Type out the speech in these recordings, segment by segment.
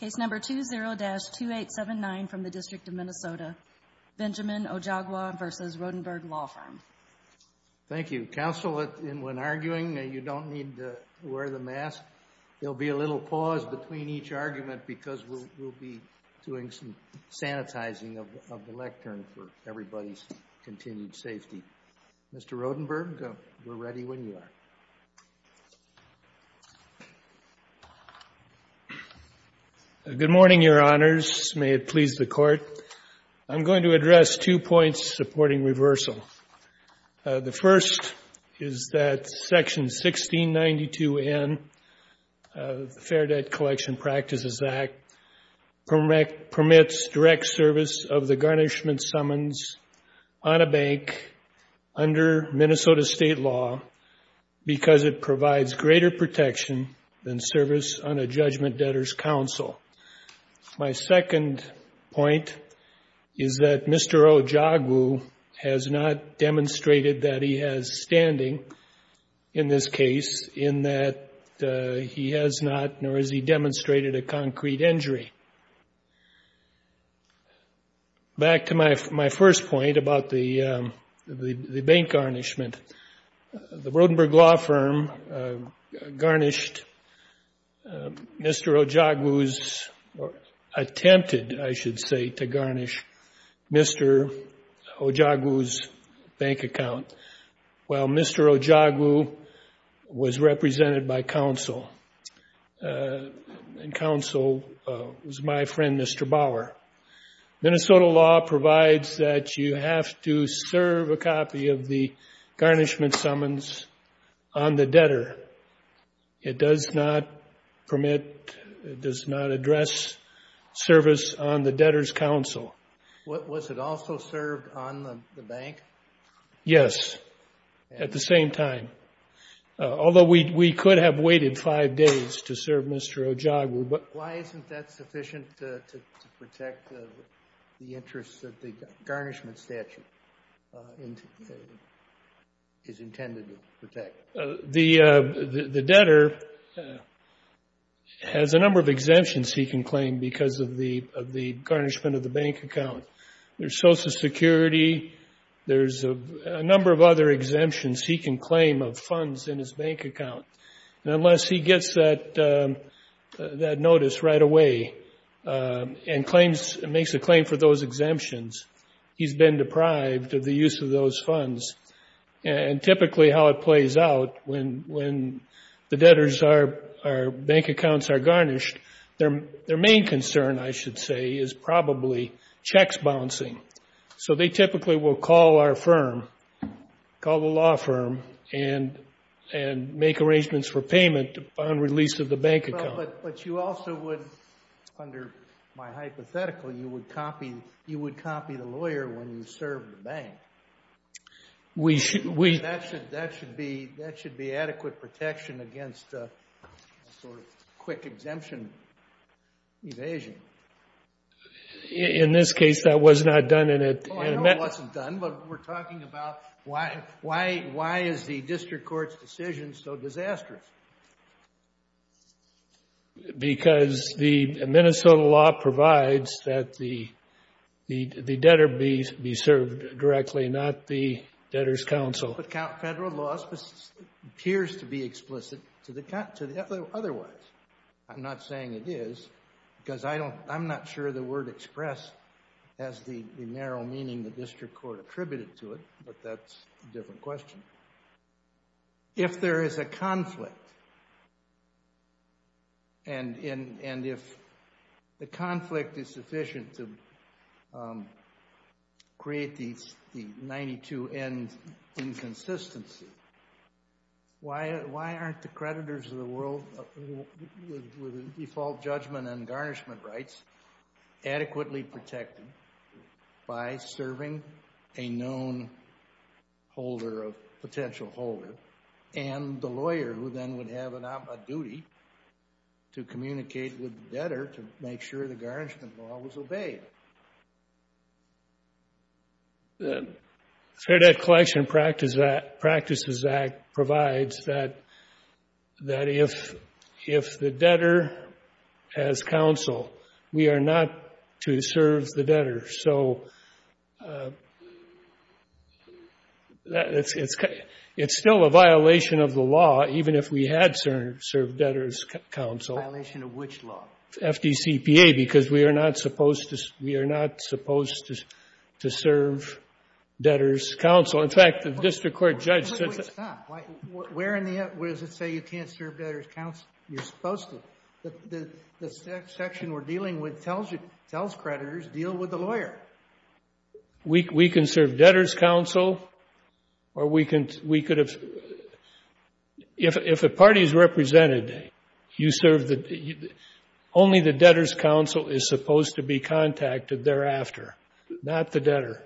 Case number 20-2879 from the District of Minnesota, Benjamin Ojogwu v. Rodenburg Law Firm Thank you. Counsel, when arguing, you don't need to wear the mask. There will be a little pause between each argument because we'll be doing some sanitizing of the lectern for everybody's continued safety. Mr. Rodenburg, we're ready when you are. Good morning, Your Honors. May it please the Court. I'm going to address two points supporting reversal. The first is that Section 1692N of the Fair Debt Collection Practices Act permits direct service of the garnishment summons on a bank under Minnesota state law because it provides greater protection than service on a judgment-based basis. My second point is that Mr. Ojogwu has not demonstrated that he has standing in this case in that he has not nor has he demonstrated a concrete injury. Back to my first point about the bank garnishment. The Rodenburg Law Firm garnished Mr. Ojogwu's attempted, I should say, to garnish Mr. Ojogwu's bank account while Mr. Ojogwu was represented by counsel. Counsel was my friend, Mr. Bauer. Minnesota law provides that you have to serve a copy of the garnishment summons on the debtor. It does not permit, it does not address service on the debtor's counsel. Was it also served on the bank? Yes, at the same time. Although we could have waited five days to serve Mr. Ojogwu. Why isn't that sufficient to protect the interest that the garnishment statute is intended to protect? The debtor has a number of exemptions he can claim because of the garnishment of the bank account. There's Social Security, there's a number of other exemptions he can claim of funds in his bank account. Unless he gets that notice right away and makes a claim for those exemptions, he's been deprived of the use of those funds. Typically, how it plays out, when the debtors' bank accounts are garnished, their main concern, I should say, is probably checks bouncing. They typically will call our firm, call the law firm, and make arrangements for payment upon release of the bank account. But you also would, under my hypothetical, you would copy the lawyer when you serve the bank. That should be adequate protection against a sort of quick exemption evasion. In this case, that was not done in a... No, it wasn't done, but we're talking about why is the district court's decision so disastrous? Because the Minnesota law provides that the debtor be served directly, not the debtor's counsel. But federal law appears to be explicit otherwise. I'm not saying it is, because I'm not sure the word expressed has the narrow meaning the district court attributed to it, but that's a different question. If there is a conflict, and if the conflict is sufficient to create the 92-N inconsistency, why aren't the creditors of the world with a default judgment on garnishment rights adequately protected by serving a known holder, a potential holder, and the lawyer who then would have a duty to communicate with the debtor to make sure the garnishment law was obeyed? The Fair Debt Collection Practices Act provides that if the debtor has counsel, we are not to serve the debtor. So it's still a violation of the law, even if we had served debtor's counsel. A violation of which law? FDCPA, because we are not supposed to serve debtor's counsel. In fact, the district court judge said so. Wait, stop. Where does it say you can't serve debtor's counsel? You're supposed to. The section we're dealing with tells creditors, deal with the lawyer. We can serve debtor's counsel, or we could have, if a party is represented, you serve the, only the debtor's counsel is supposed to be contacted thereafter, not the debtor.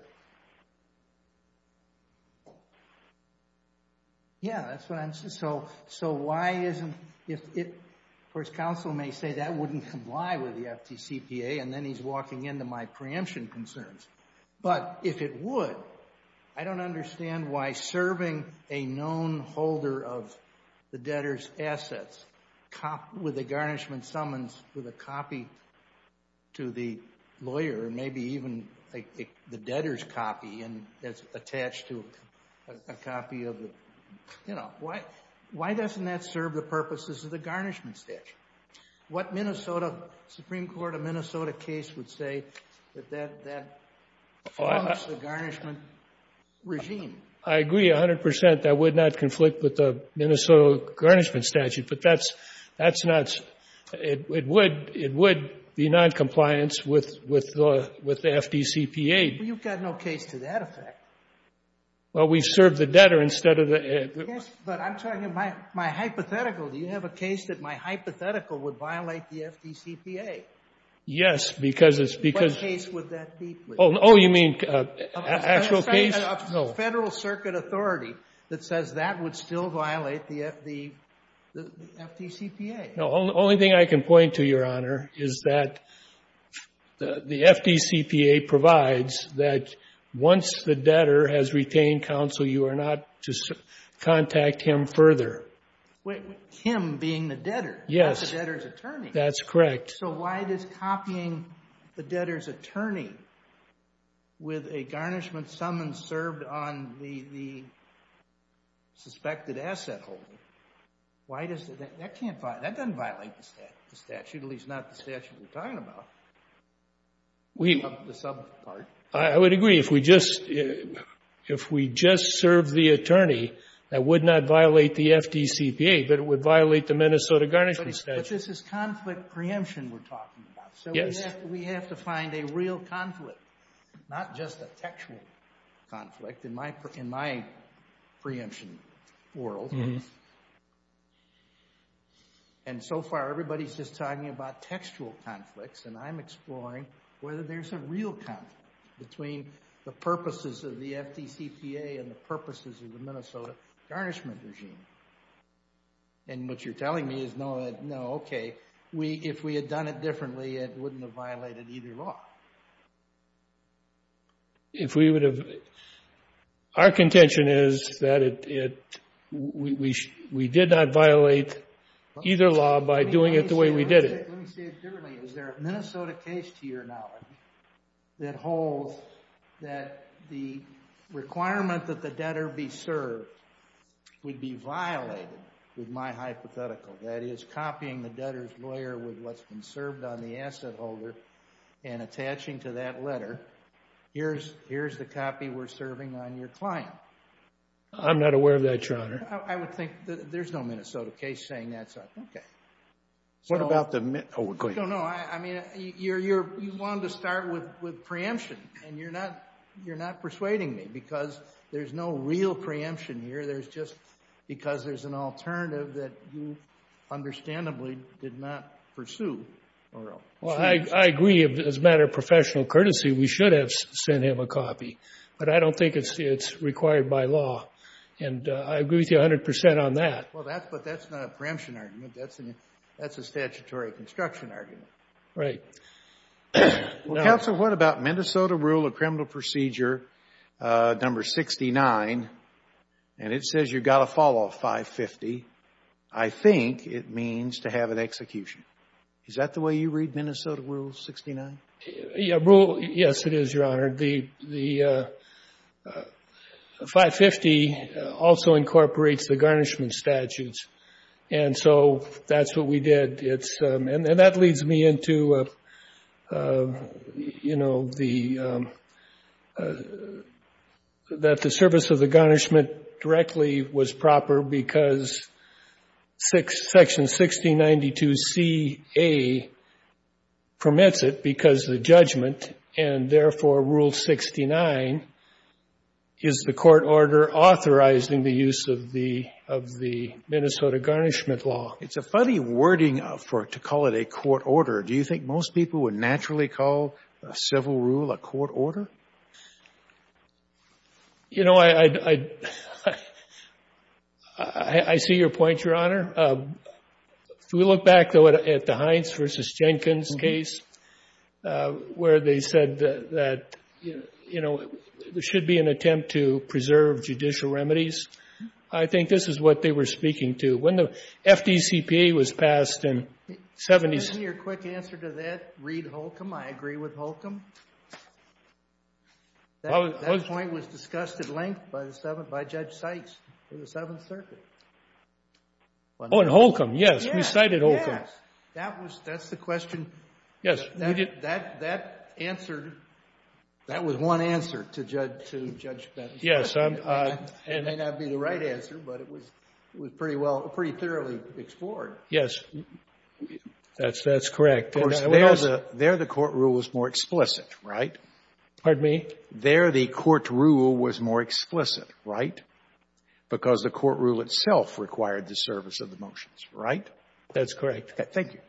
Yeah, that's what I'm, so why isn't, if, of course, counsel may say that wouldn't comply with the FDCPA, and then he's walking into my preemption concerns, but if it would, I don't understand why serving a known holder of the debtor's assets with a garnishment summons, with a copy to the lawyer, maybe even the debtor's copy that's attached to a copy of the, you know, why doesn't that serve the purposes of the garnishment statute? What Minnesota, Supreme Court of Minnesota case would say that that, that forms the garnishment regime? I agree 100%. That would not conflict with the Minnesota garnishment statute, but that's, that's not, it would, it would be noncompliance with, with the, with the FDCPA. Well, you've got no case to that effect. Well, we serve the debtor instead of the. Yes, but I'm talking about my hypothetical. Do you have a case that my hypothetical would violate the FDCPA? Yes, because it's because. What case would that be, please? Oh, you mean actual case? No. Federal circuit authority that says that would still violate the FD, the FDCPA. No, the only thing I can point to, Your Honor, is that the FDCPA provides that once the debtor has retained counsel, you are not to contact him further. Wait, him being the debtor. Yes. Not the debtor's attorney. That's correct. So why does copying the debtor's attorney with a garnishment summons served on the, the suspected asset holder, why does that, that can't violate, that doesn't violate the statute, at least not the statute we're talking about. We. The sub part. I would agree. If we just, if we just serve the attorney, that would not violate the FDCPA, but it would violate the Minnesota garnishment statute. But this is conflict preemption we're talking about. Yes. We have to find a real conflict, not just a textual conflict. In my, in my preemption world, and so far everybody's just talking about textual conflicts, and I'm exploring whether there's a real conflict between the purposes of the FDCPA and the purposes of the Minnesota garnishment regime. And what you're telling me is no, no, okay, we, if we had done it differently, it wouldn't have violated either law. If we would have, our contention is that it, it, we, we, we did not violate either law by doing it the way we did it. Let me say it differently. Is there a Minnesota case, to your knowledge, that holds that the requirement that the debtor be served would be violated with my hypothetical? That is, copying the debtor's lawyer with what's been served on the asset holder and attaching to that letter, here's, here's the copy we're serving on your client. I'm not aware of that, Your Honor. I would think, there's no Minnesota case saying that's, okay. What about the, oh, go ahead. No, no, I, I mean, you're, you're, you wanted to start with, with preemption, and you're not, you're not persuading me, because there's no real preemption here. There's just, because there's an alternative that you understandably did not pursue. Well, I, I agree, as a matter of professional courtesy, we should have sent him a copy, but I don't think it's, it's required by law, and I agree with you 100% on that. Well, that's, but that's not a preemption argument. That's an, that's a statutory construction argument. Right. Well, counsel, what about Minnesota rule of criminal procedure number 69, and it says you've got to fall off 550. I think it means to have an execution. Is that the way you read Minnesota rule 69? Yeah, rule, yes it is, Your Honor. The, the 550 also incorporates the garnishment statutes, and so that's what we did. It's, and that leads me into, you know, the, that the service of the garnishment directly was proper, because section 1692 C.A. permits it because the judgment, and therefore rule 69 is the court order authorizing the use of the, of the Minnesota garnishment law. It's a funny wording for, to call it a court order. Do you think most people would naturally call a civil rule a court order? You know, I, I, I, I, I see your point, Your Honor. If we look back, though, at the Hines v. Jenkins case, where they said that, you know, there should be an attempt to preserve judicial remedies. I think this is what they were speaking to. When the FDCPA was passed in 70s. Can I get your quick answer to that, Reed Holcomb? I agree with Holcomb. That point was discussed at length by the 7th, by Judge Sykes in the 7th Circuit. Oh, and Holcomb, yes. We cited Holcomb. Yes. That was, that's the question. Yes. That, that, that answered, that was one answer to Judge, to Judge Benson. Yes. It may not be the right answer, but it was, it was pretty well, pretty thoroughly explored. Yes. That's, that's correct. Of course, there the, there the court rule was more explicit, right? Pardon me? There the court rule was more explicit, right? Because the court rule itself required the service of the motions, right? That's correct. Thank you.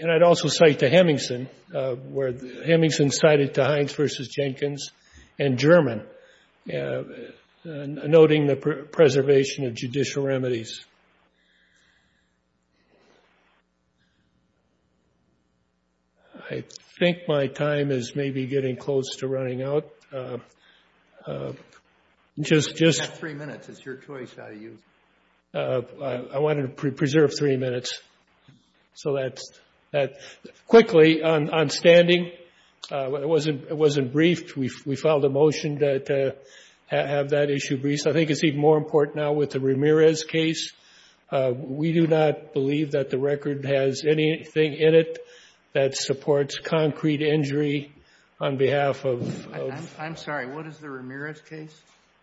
And I'd also cite the Hemingson, where the Hemingson cited the Hines v. Jenkins and German, noting the preservation of judicial remedies. I think my time is maybe getting close to running out. Just, just... You have three minutes. It's your choice how to use it. I wanted to preserve three minutes. So that's, that, quickly, on standing, it wasn't, it wasn't briefed. We filed a motion to have that issue briefed. I think it's even more important now with the Ramirez case. We do not believe that the record has anything in it that supports concrete injury on behalf of... I'm sorry. What is the Ramirez case?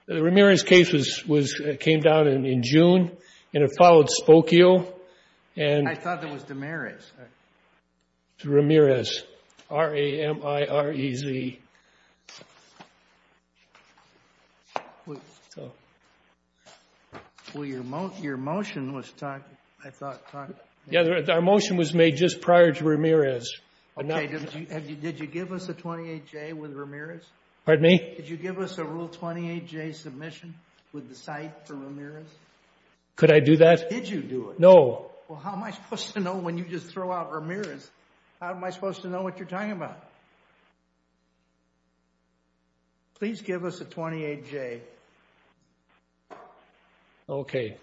The Ramirez case was, came down in June, and it followed Spokio. I thought that was Damirez. Ramirez, R-A-M-I-R-E-Z. Well, your motion was, I thought... Yeah, our motion was made just prior to Ramirez. Okay, did you give us a 28-J with Ramirez? Pardon me? Did you give us a Rule 28-J submission with the site for Ramirez? Could I do that? Did you do it? No. Well, how am I supposed to know when you just throw out Ramirez? How am I supposed to know what you're talking about? Please give us a 28-J. Okay.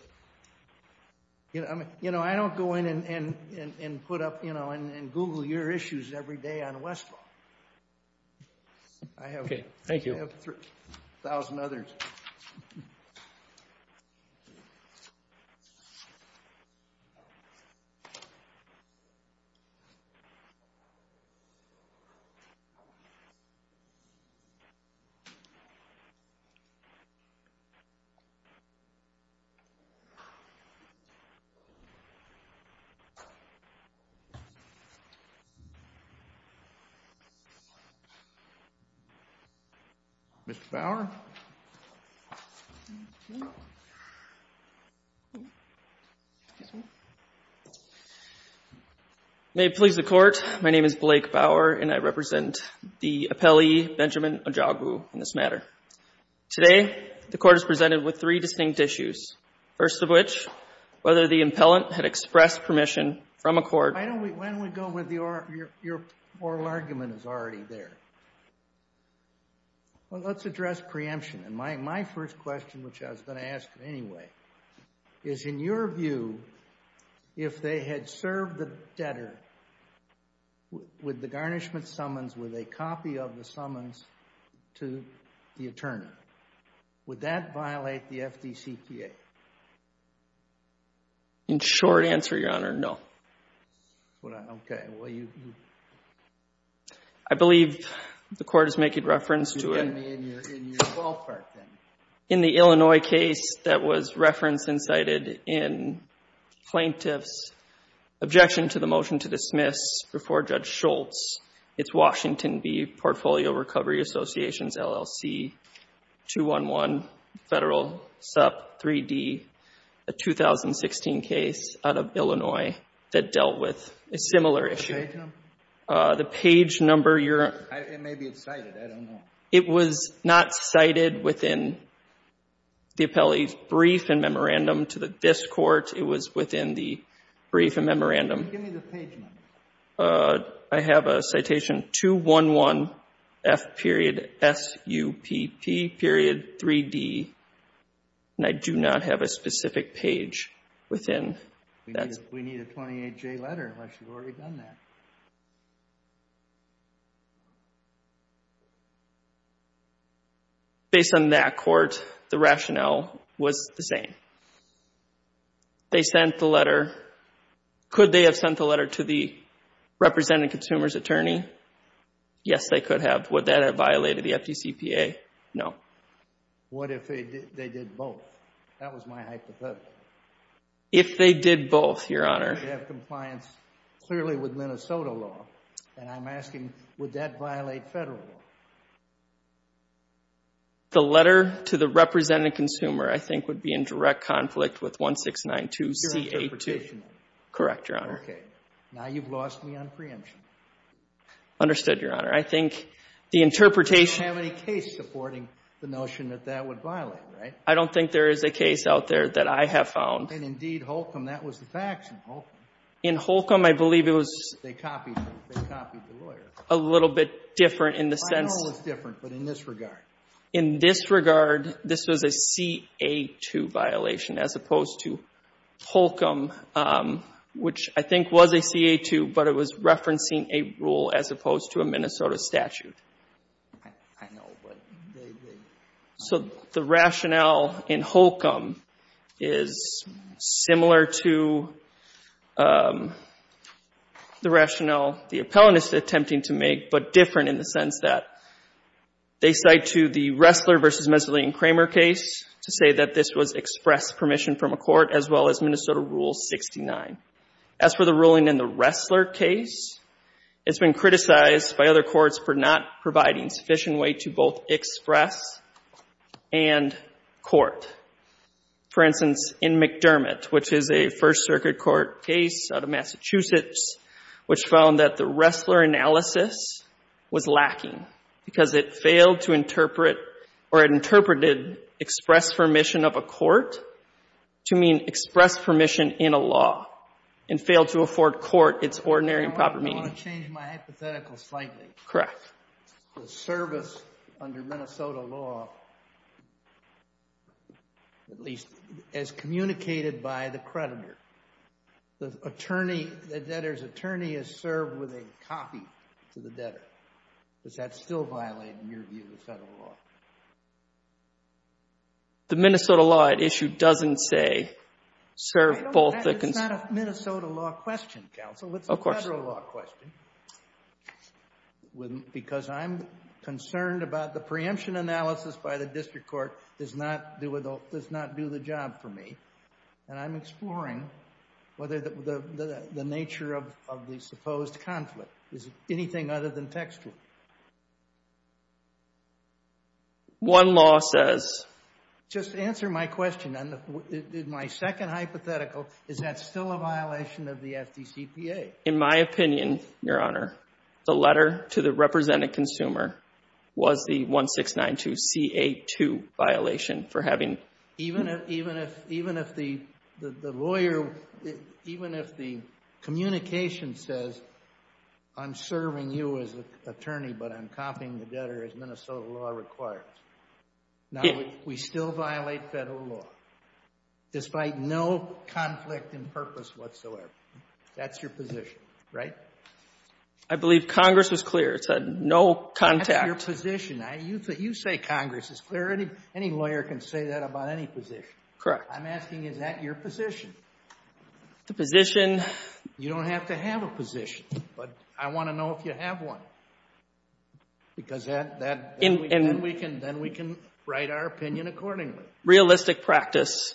You know, I don't go in and put up, you know, and Google your issues every day on Westlaw. Okay, thank you. I have a thousand others. Thank you. Mr. Bauer? Thank you. Excuse me. May it please the Court, my name is Blake Bauer, and I represent the appellee, Benjamin Ojogwu, in this matter. Today, the Court is presented with three distinct issues, first of which, whether the impellant had expressed permission from a court... Why don't we go with your oral argument is already there. Well, let's address preemption. And my first question, which I was going to ask anyway, is in your view, if they had served the debtor with the garnishment summons, with a copy of the summons to the attorney, would that violate the FDCPA? In short answer, Your Honor, no. Okay. I believe the Court is making reference to it... In your ballpark, then. In the Illinois case that was referenced and cited in plaintiff's objection to the motion to dismiss before Judge Schultz, it's Washington v. Portfolio Recovery Associations, LLC, 211 Federal Sup 3D, a 2016 case out of Illinois that dealt with a similar issue. The page number? The page number, Your Honor... It may be excited, I don't know. It was not cited within the appellee's brief and memorandum to this Court. It was within the brief and memorandum. Give me the page number. I have a citation 211F.S.U.P.P.3D, and I do not have a specific page within that. We need a 28J letter, unless you've already done that. Based on that Court, the rationale was the same. They sent the letter. Could they have sent the letter to the representing consumer's attorney? Yes, they could have. Would that have violated the FDCPA? No. What if they did both? That was my hypothesis. If they did both, Your Honor... They have compliance clearly with Minnesota law, and I'm asking, would that The letter to the representing consumer, I think, would be in direct conflict with 1692CA2. Your interpretation... Correct, Your Honor. Okay. Now you've lost me on preemption. Understood, Your Honor. I think the interpretation... You don't have any case supporting the notion that that would violate, right? I don't think there is a case out there that I have found. And, indeed, Holcomb, that was the faction, Holcomb. In Holcomb, I believe it was... They copied him. They copied the lawyer. A little bit different in the sense... A little bit different, but in this regard. In this regard, this was a CA2 violation as opposed to Holcomb, which I think was a CA2, but it was referencing a rule as opposed to a Minnesota statute. I know, but they... So the rationale in Holcomb is similar to the rationale the appellant is attempting to make, but different in the sense that they cite to the Ressler v. Messaline-Kramer case to say that this was express permission from a court as well as Minnesota Rule 69. As for the ruling in the Ressler case, it's been criticized by other courts for not providing sufficient weight to both express and court. For instance, in McDermott, which is a First Circuit court case out of Massachusetts, which found that the Ressler analysis was lacking because it failed to interpret or interpreted express permission of a court to mean express permission in a law and failed to afford court its ordinary and proper meaning. I want to change my hypothetical slightly. Correct. The service under Minnesota law, at least as communicated by the creditor, the debtor's attorney is served with a copy to the debtor. Does that still violate, in your view, the federal law? The Minnesota law at issue doesn't say, serve both the... It's not a Minnesota law question, counsel. Of course. It's a federal law question because I'm concerned about the preemption analysis by the district court does not do the job for me, and I'm exploring whether the nature of the supposed conflict is anything other than textual. One law says... Just answer my question. In my second hypothetical, is that still a violation of the FDCPA? In my opinion, Your Honor, the letter to the represented consumer was the 1692 C.A. 2 violation for having... Even if the lawyer, even if the communication says, I'm serving you as an attorney, but I'm copying the debtor as Minnesota law requires. Now, we still violate federal law despite no conflict in purpose whatsoever. That's your position, right? I believe Congress was clear. It said no contact. That's your position. You say Congress is clear. Any lawyer can say that about any position. Correct. I'm asking, is that your position? The position... You don't have to have a position, but I want to know if you have one because then we can write our opinion accordingly. Realistic practice,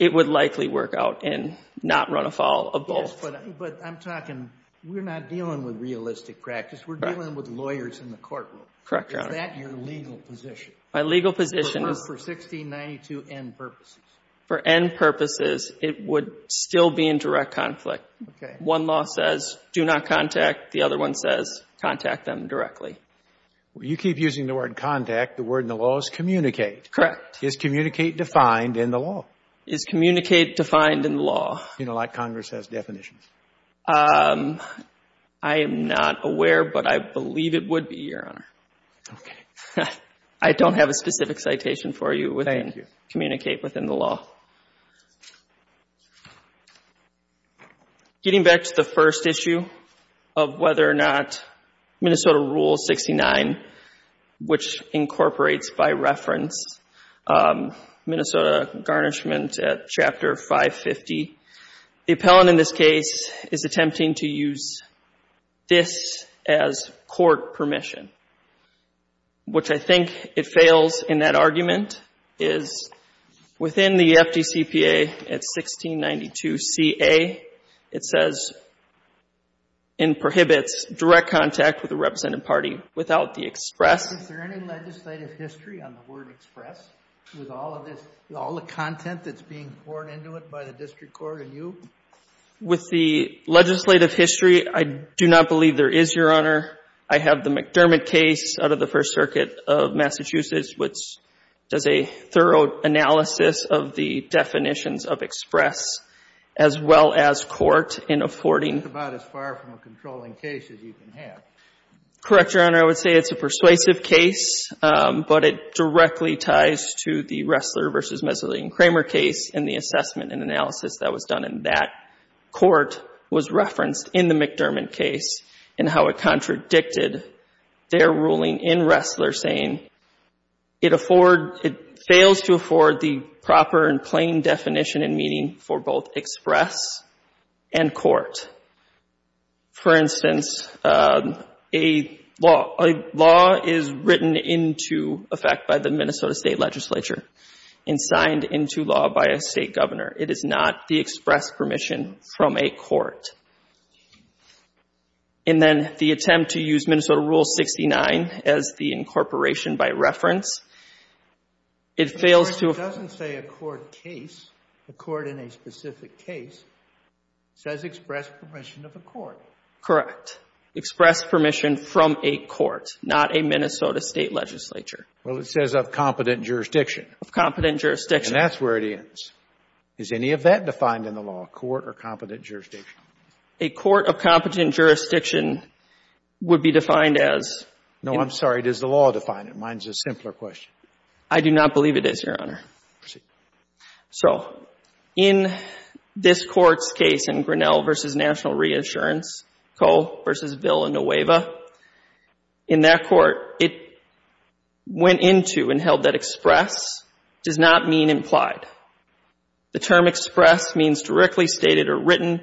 it would likely work out and not run afoul of both. Yes, but I'm talking... We're not dealing with realistic practice. We're dealing with lawyers in the courtroom. Correct, Your Honor. Is that your legal position? My legal position is... For 1692N purposes. For N purposes, it would still be in direct conflict. Okay. One law says do not contact. The other one says contact them directly. You keep using the word contact. The word in the law is communicate. Correct. Is communicate defined in the law? Is communicate defined in the law? You know, like Congress has definitions. I am not aware, but I believe it would be, Your Honor. Okay. I don't have a specific citation for you with communicate within the law. Getting back to the first issue of whether or not Minnesota Rule 69, which incorporates by reference Minnesota Garnishment at Chapter 550, the appellant in this case is attempting to use this as court permission, which I think it fails in that argument, is within the FDCPA at 1692CA, it says and prohibits direct contact with the representative party without the express. Is there any legislative history on the word express with all of this, with all the content that's being poured into it by the district court and you? With the legislative history, I do not believe there is, Your Honor. I have the McDermott case out of the First Circuit of Massachusetts, which does a thorough analysis of the definitions of express as well as court in affording. It's about as far from a controlling case as you can have. Correct, Your Honor. Your Honor, I would say it's a persuasive case, but it directly ties to the Ressler v. Meselian-Kramer case and the assessment and analysis that was done in that court was referenced in the McDermott case and how it contradicted their ruling in Ressler saying it fails to afford the proper and plain definition and meaning for both express and court. For instance, a law is written into effect by the Minnesota State Legislature and signed into law by a State governor. It is not the express permission from a court. And then the attempt to use Minnesota Rule 69 as the incorporation by reference, it fails to afford. The court in a specific case says express permission of a court. Correct. Express permission from a court, not a Minnesota State Legislature. Well, it says of competent jurisdiction. Of competent jurisdiction. And that's where it ends. Is any of that defined in the law, court or competent jurisdiction? A court of competent jurisdiction would be defined as. No, I'm sorry. Does the law define it? Mine is a simpler question. I do not believe it is, Your Honor. Proceed. So in this court's case in Grinnell v. National Reassurance, Cole v. Ville and Nueva, in that court it went into and held that express does not mean implied. The term express means directly stated or written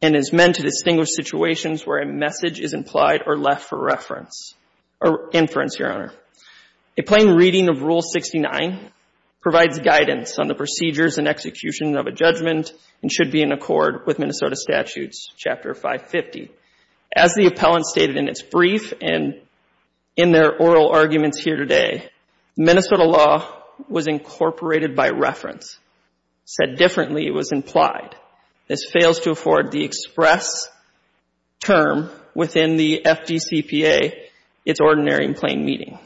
and is meant to distinguish situations where a message is implied or left for reference or inference, Your Honor. A plain reading of Rule 69 provides guidance on the procedures and execution of a judgment and should be in accord with Minnesota Statutes, Chapter 550. As the appellant stated in its brief and in their oral arguments here today, Minnesota law was incorporated by reference. Said differently, it was implied. This fails to afford the express term within the FDCPA, its ordinary and plain reading.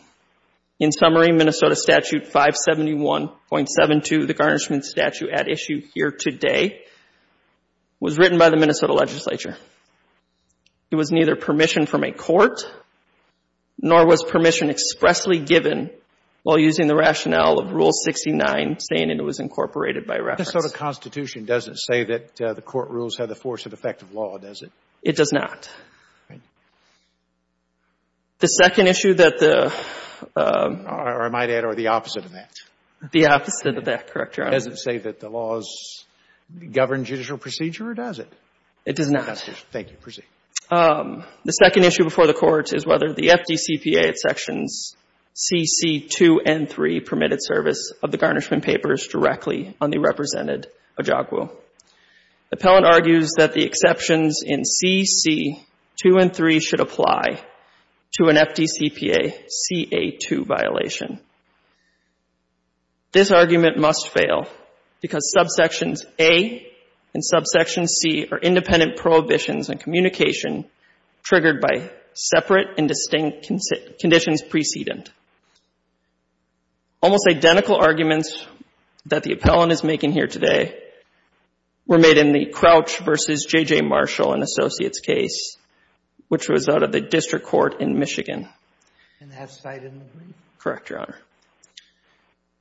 In summary, Minnesota Statute 571.72, the garnishment statute at issue here today, was written by the Minnesota legislature. It was neither permission from a court nor was permission expressly given while using the rationale of Rule 69, saying it was incorporated by reference. The Minnesota Constitution doesn't say that the court rules have the force and effect of law, does it? It does not. All right. The second issue that the — Or I might add, or the opposite of that. The opposite of that, correct, Your Honor. Does it say that the laws govern judicial procedure or does it? It does not. Thank you. Proceed. The second issue before the Court is whether the FDCPA sections CC2 and 3 permitted service of the garnishment papers directly on the represented ojagu. Appellant argues that the exceptions in CC2 and 3 should apply to an FDCPA CA2 violation. This argument must fail because subsections A and subsection C are independent prohibitions on communication triggered by separate and distinct conditions precedent. Almost identical arguments that the appellant is making here today were made in the Crouch v. J.J. Marshall and Associates case, which was out of the district court in Michigan. And that's cited in the brief? Correct, Your Honor.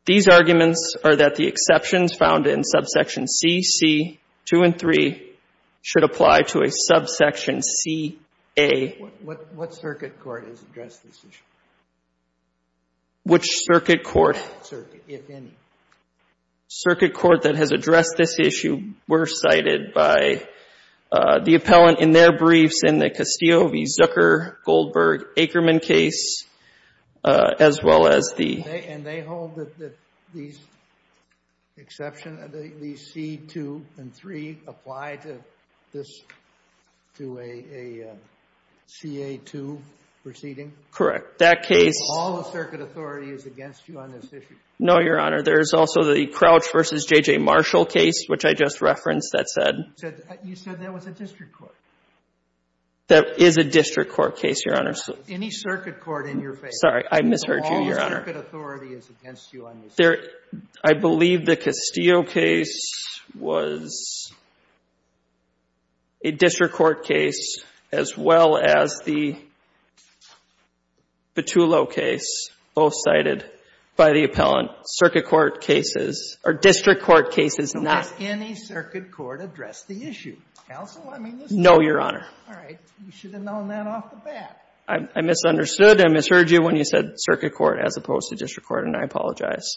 These arguments are that the exceptions found in subsection CC2 and 3 should apply to a subsection CA. What circuit court has addressed this issue? Which circuit court? If any. Circuit court that has addressed this issue were cited by the appellant in their briefs in the Castillo v. Zucker, Goldberg, Ackerman case, as well as the ---- And they hold that these exceptions, these CC2 and 3, apply to this, to a CA2 proceeding? That case ---- All the circuit authority is against you on this issue? No, Your Honor. There is also the Crouch v. J.J. Marshall case, which I just referenced, that said ---- You said that was a district court? That is a district court case, Your Honor. Any circuit court in your favor? Sorry. I misheard you, Your Honor. All the circuit authority is against you on this issue? I believe the Castillo case was a district court case, as well as the Petullo case, both cited by the appellant. Circuit court cases, or district court cases, not ---- Has any circuit court addressed the issue? Counsel, I mean, this is ---- No, Your Honor. All right. You should have known that off the bat. I misunderstood. I misheard you when you said circuit court as opposed to district court, and I apologize.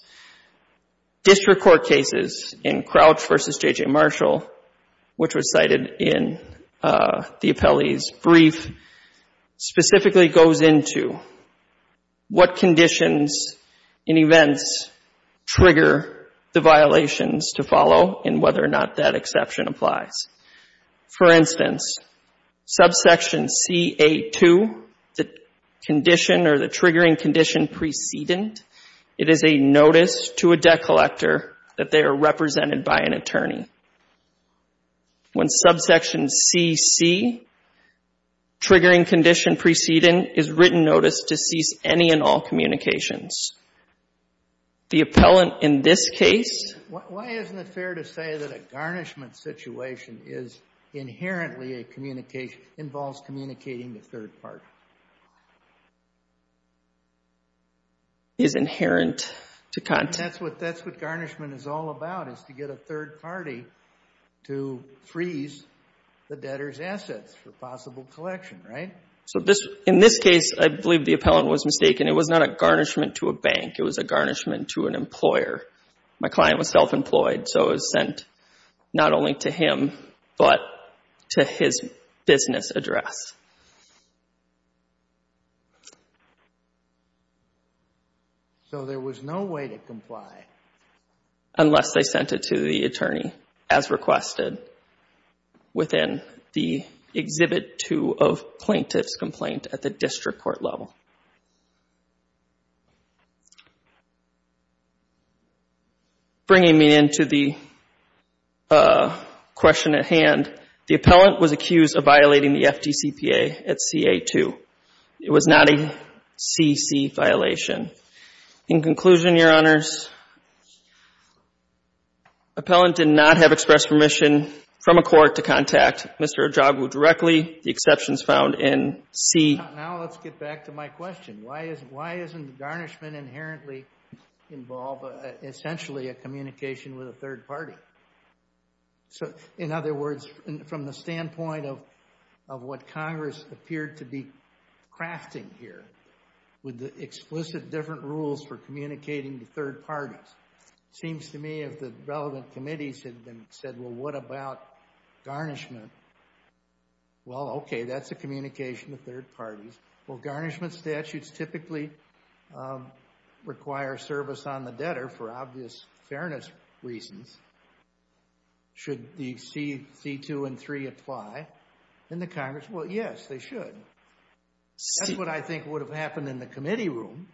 District court cases in Crouch v. J.J. Marshall, which was cited in the appellee's brief, specifically goes into what conditions and events trigger the violations to follow and whether or not that exception applies. For instance, subsection CA2, the condition or the triggering condition precedent, it is a notice to a debt collector that they are represented by an attorney. When subsection CC, triggering condition precedent, is written notice to cease any and all communications. The appellant in this case ---- Why isn't it fair to say that a garnishment situation is inherently a communication involves communicating to a third party? Is inherent to content. That's what garnishment is all about, is to get a third party to freeze the debtor's assets for possible collection, right? In this case, I believe the appellant was mistaken. It was not a garnishment to a bank. It was a garnishment to an employer. My client was self-employed, so it was sent not only to him, but to his business address. So there was no way to comply. Unless they sent it to the attorney, as requested within the Exhibit 2 of bringing me into the question at hand, the appellant was accused of violating the FDCPA at CA2. It was not a CC violation. In conclusion, Your Honors, appellant did not have expressed permission from a court to contact Mr. Ojagu directly. The exception is found in C. Now let's get back to my question. Why isn't garnishment inherently involved, essentially a communication with a third party? In other words, from the standpoint of what Congress appeared to be crafting here, with the explicit different rules for communicating to third parties, it seems to me if the relevant committees had said, well, what about garnishment? Well, okay, that's a communication to third parties. Well, garnishment statutes typically require service on the debtor for obvious fairness reasons. Should the C. 2 and 3 apply in the Congress? Well, yes, they should. That's what I think would have happened in the committee room,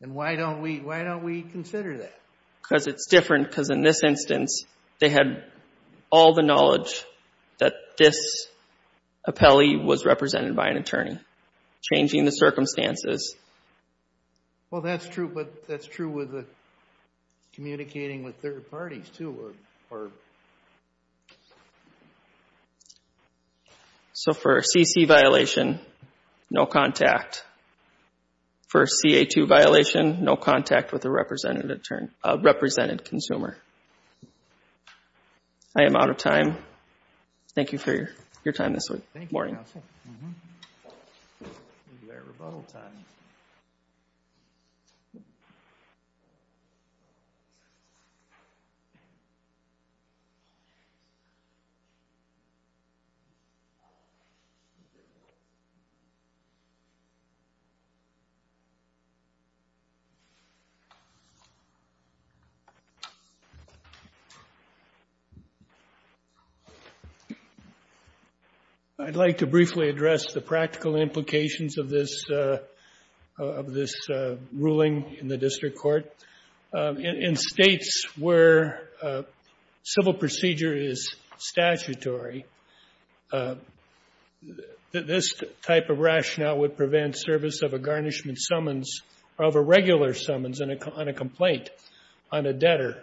and why don't we consider that? Because it's different, because in this instance, they had all the knowledge that this was changing the circumstances. Well, that's true, but that's true with communicating with third parties, too. So for a C. C. violation, no contact. For a C. A. 2 violation, no contact with a represented consumer. I am out of time. Thank you for your time this morning. Thank you, Counsel. We'll do our rebuttal time. I'd like to briefly address the practical implications of this. of this ruling in the district court. In states where civil procedure is statutory, this type of rationale would prevent service of a garnishment summons, of a regular summons on a complaint on a debtor.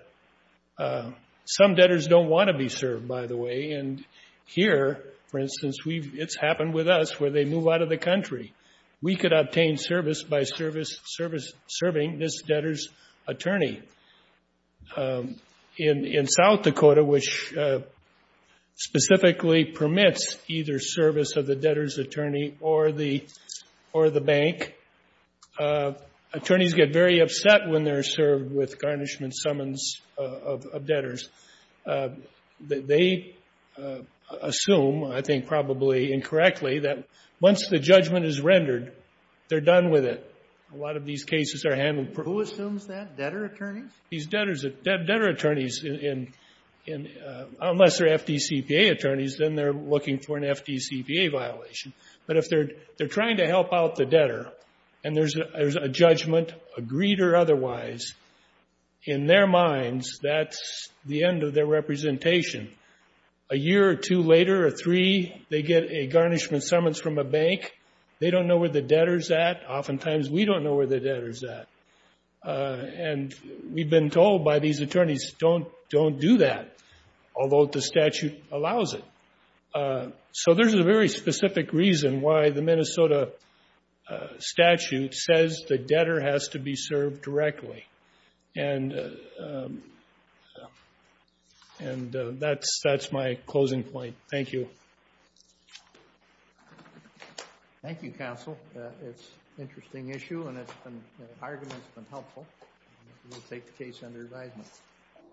Some debtors don't want to be served, by the way, and here, for instance, it's happened with us where they move out of the country. We could obtain service by serving this debtor's attorney. In South Dakota, which specifically permits either service of the debtor's attorney or the bank, attorneys get very upset when they're served with garnishment summons of debtors. They assume, I think probably incorrectly, that once the judgment is rendered, they're done with it. A lot of these cases are handled. Who assumes that? Debtor attorneys? These debtor attorneys, unless they're FDCPA attorneys, then they're looking for an FDCPA violation. But if they're trying to help out the debtor and there's a judgment, agreed or otherwise, in their minds, that's the end of their representation. A year or two later or three, they get a garnishment summons from a bank. They don't know where the debtor's at. Oftentimes, we don't know where the debtor's at. And we've been told by these attorneys, don't do that, although the statute allows it. So there's a very specific reason why the Minnesota statute says the debtor has to be served directly. And that's my closing point. Thank you. Thank you, counsel. It's an interesting issue and the argument's been helpful. We'll take the case under advisement.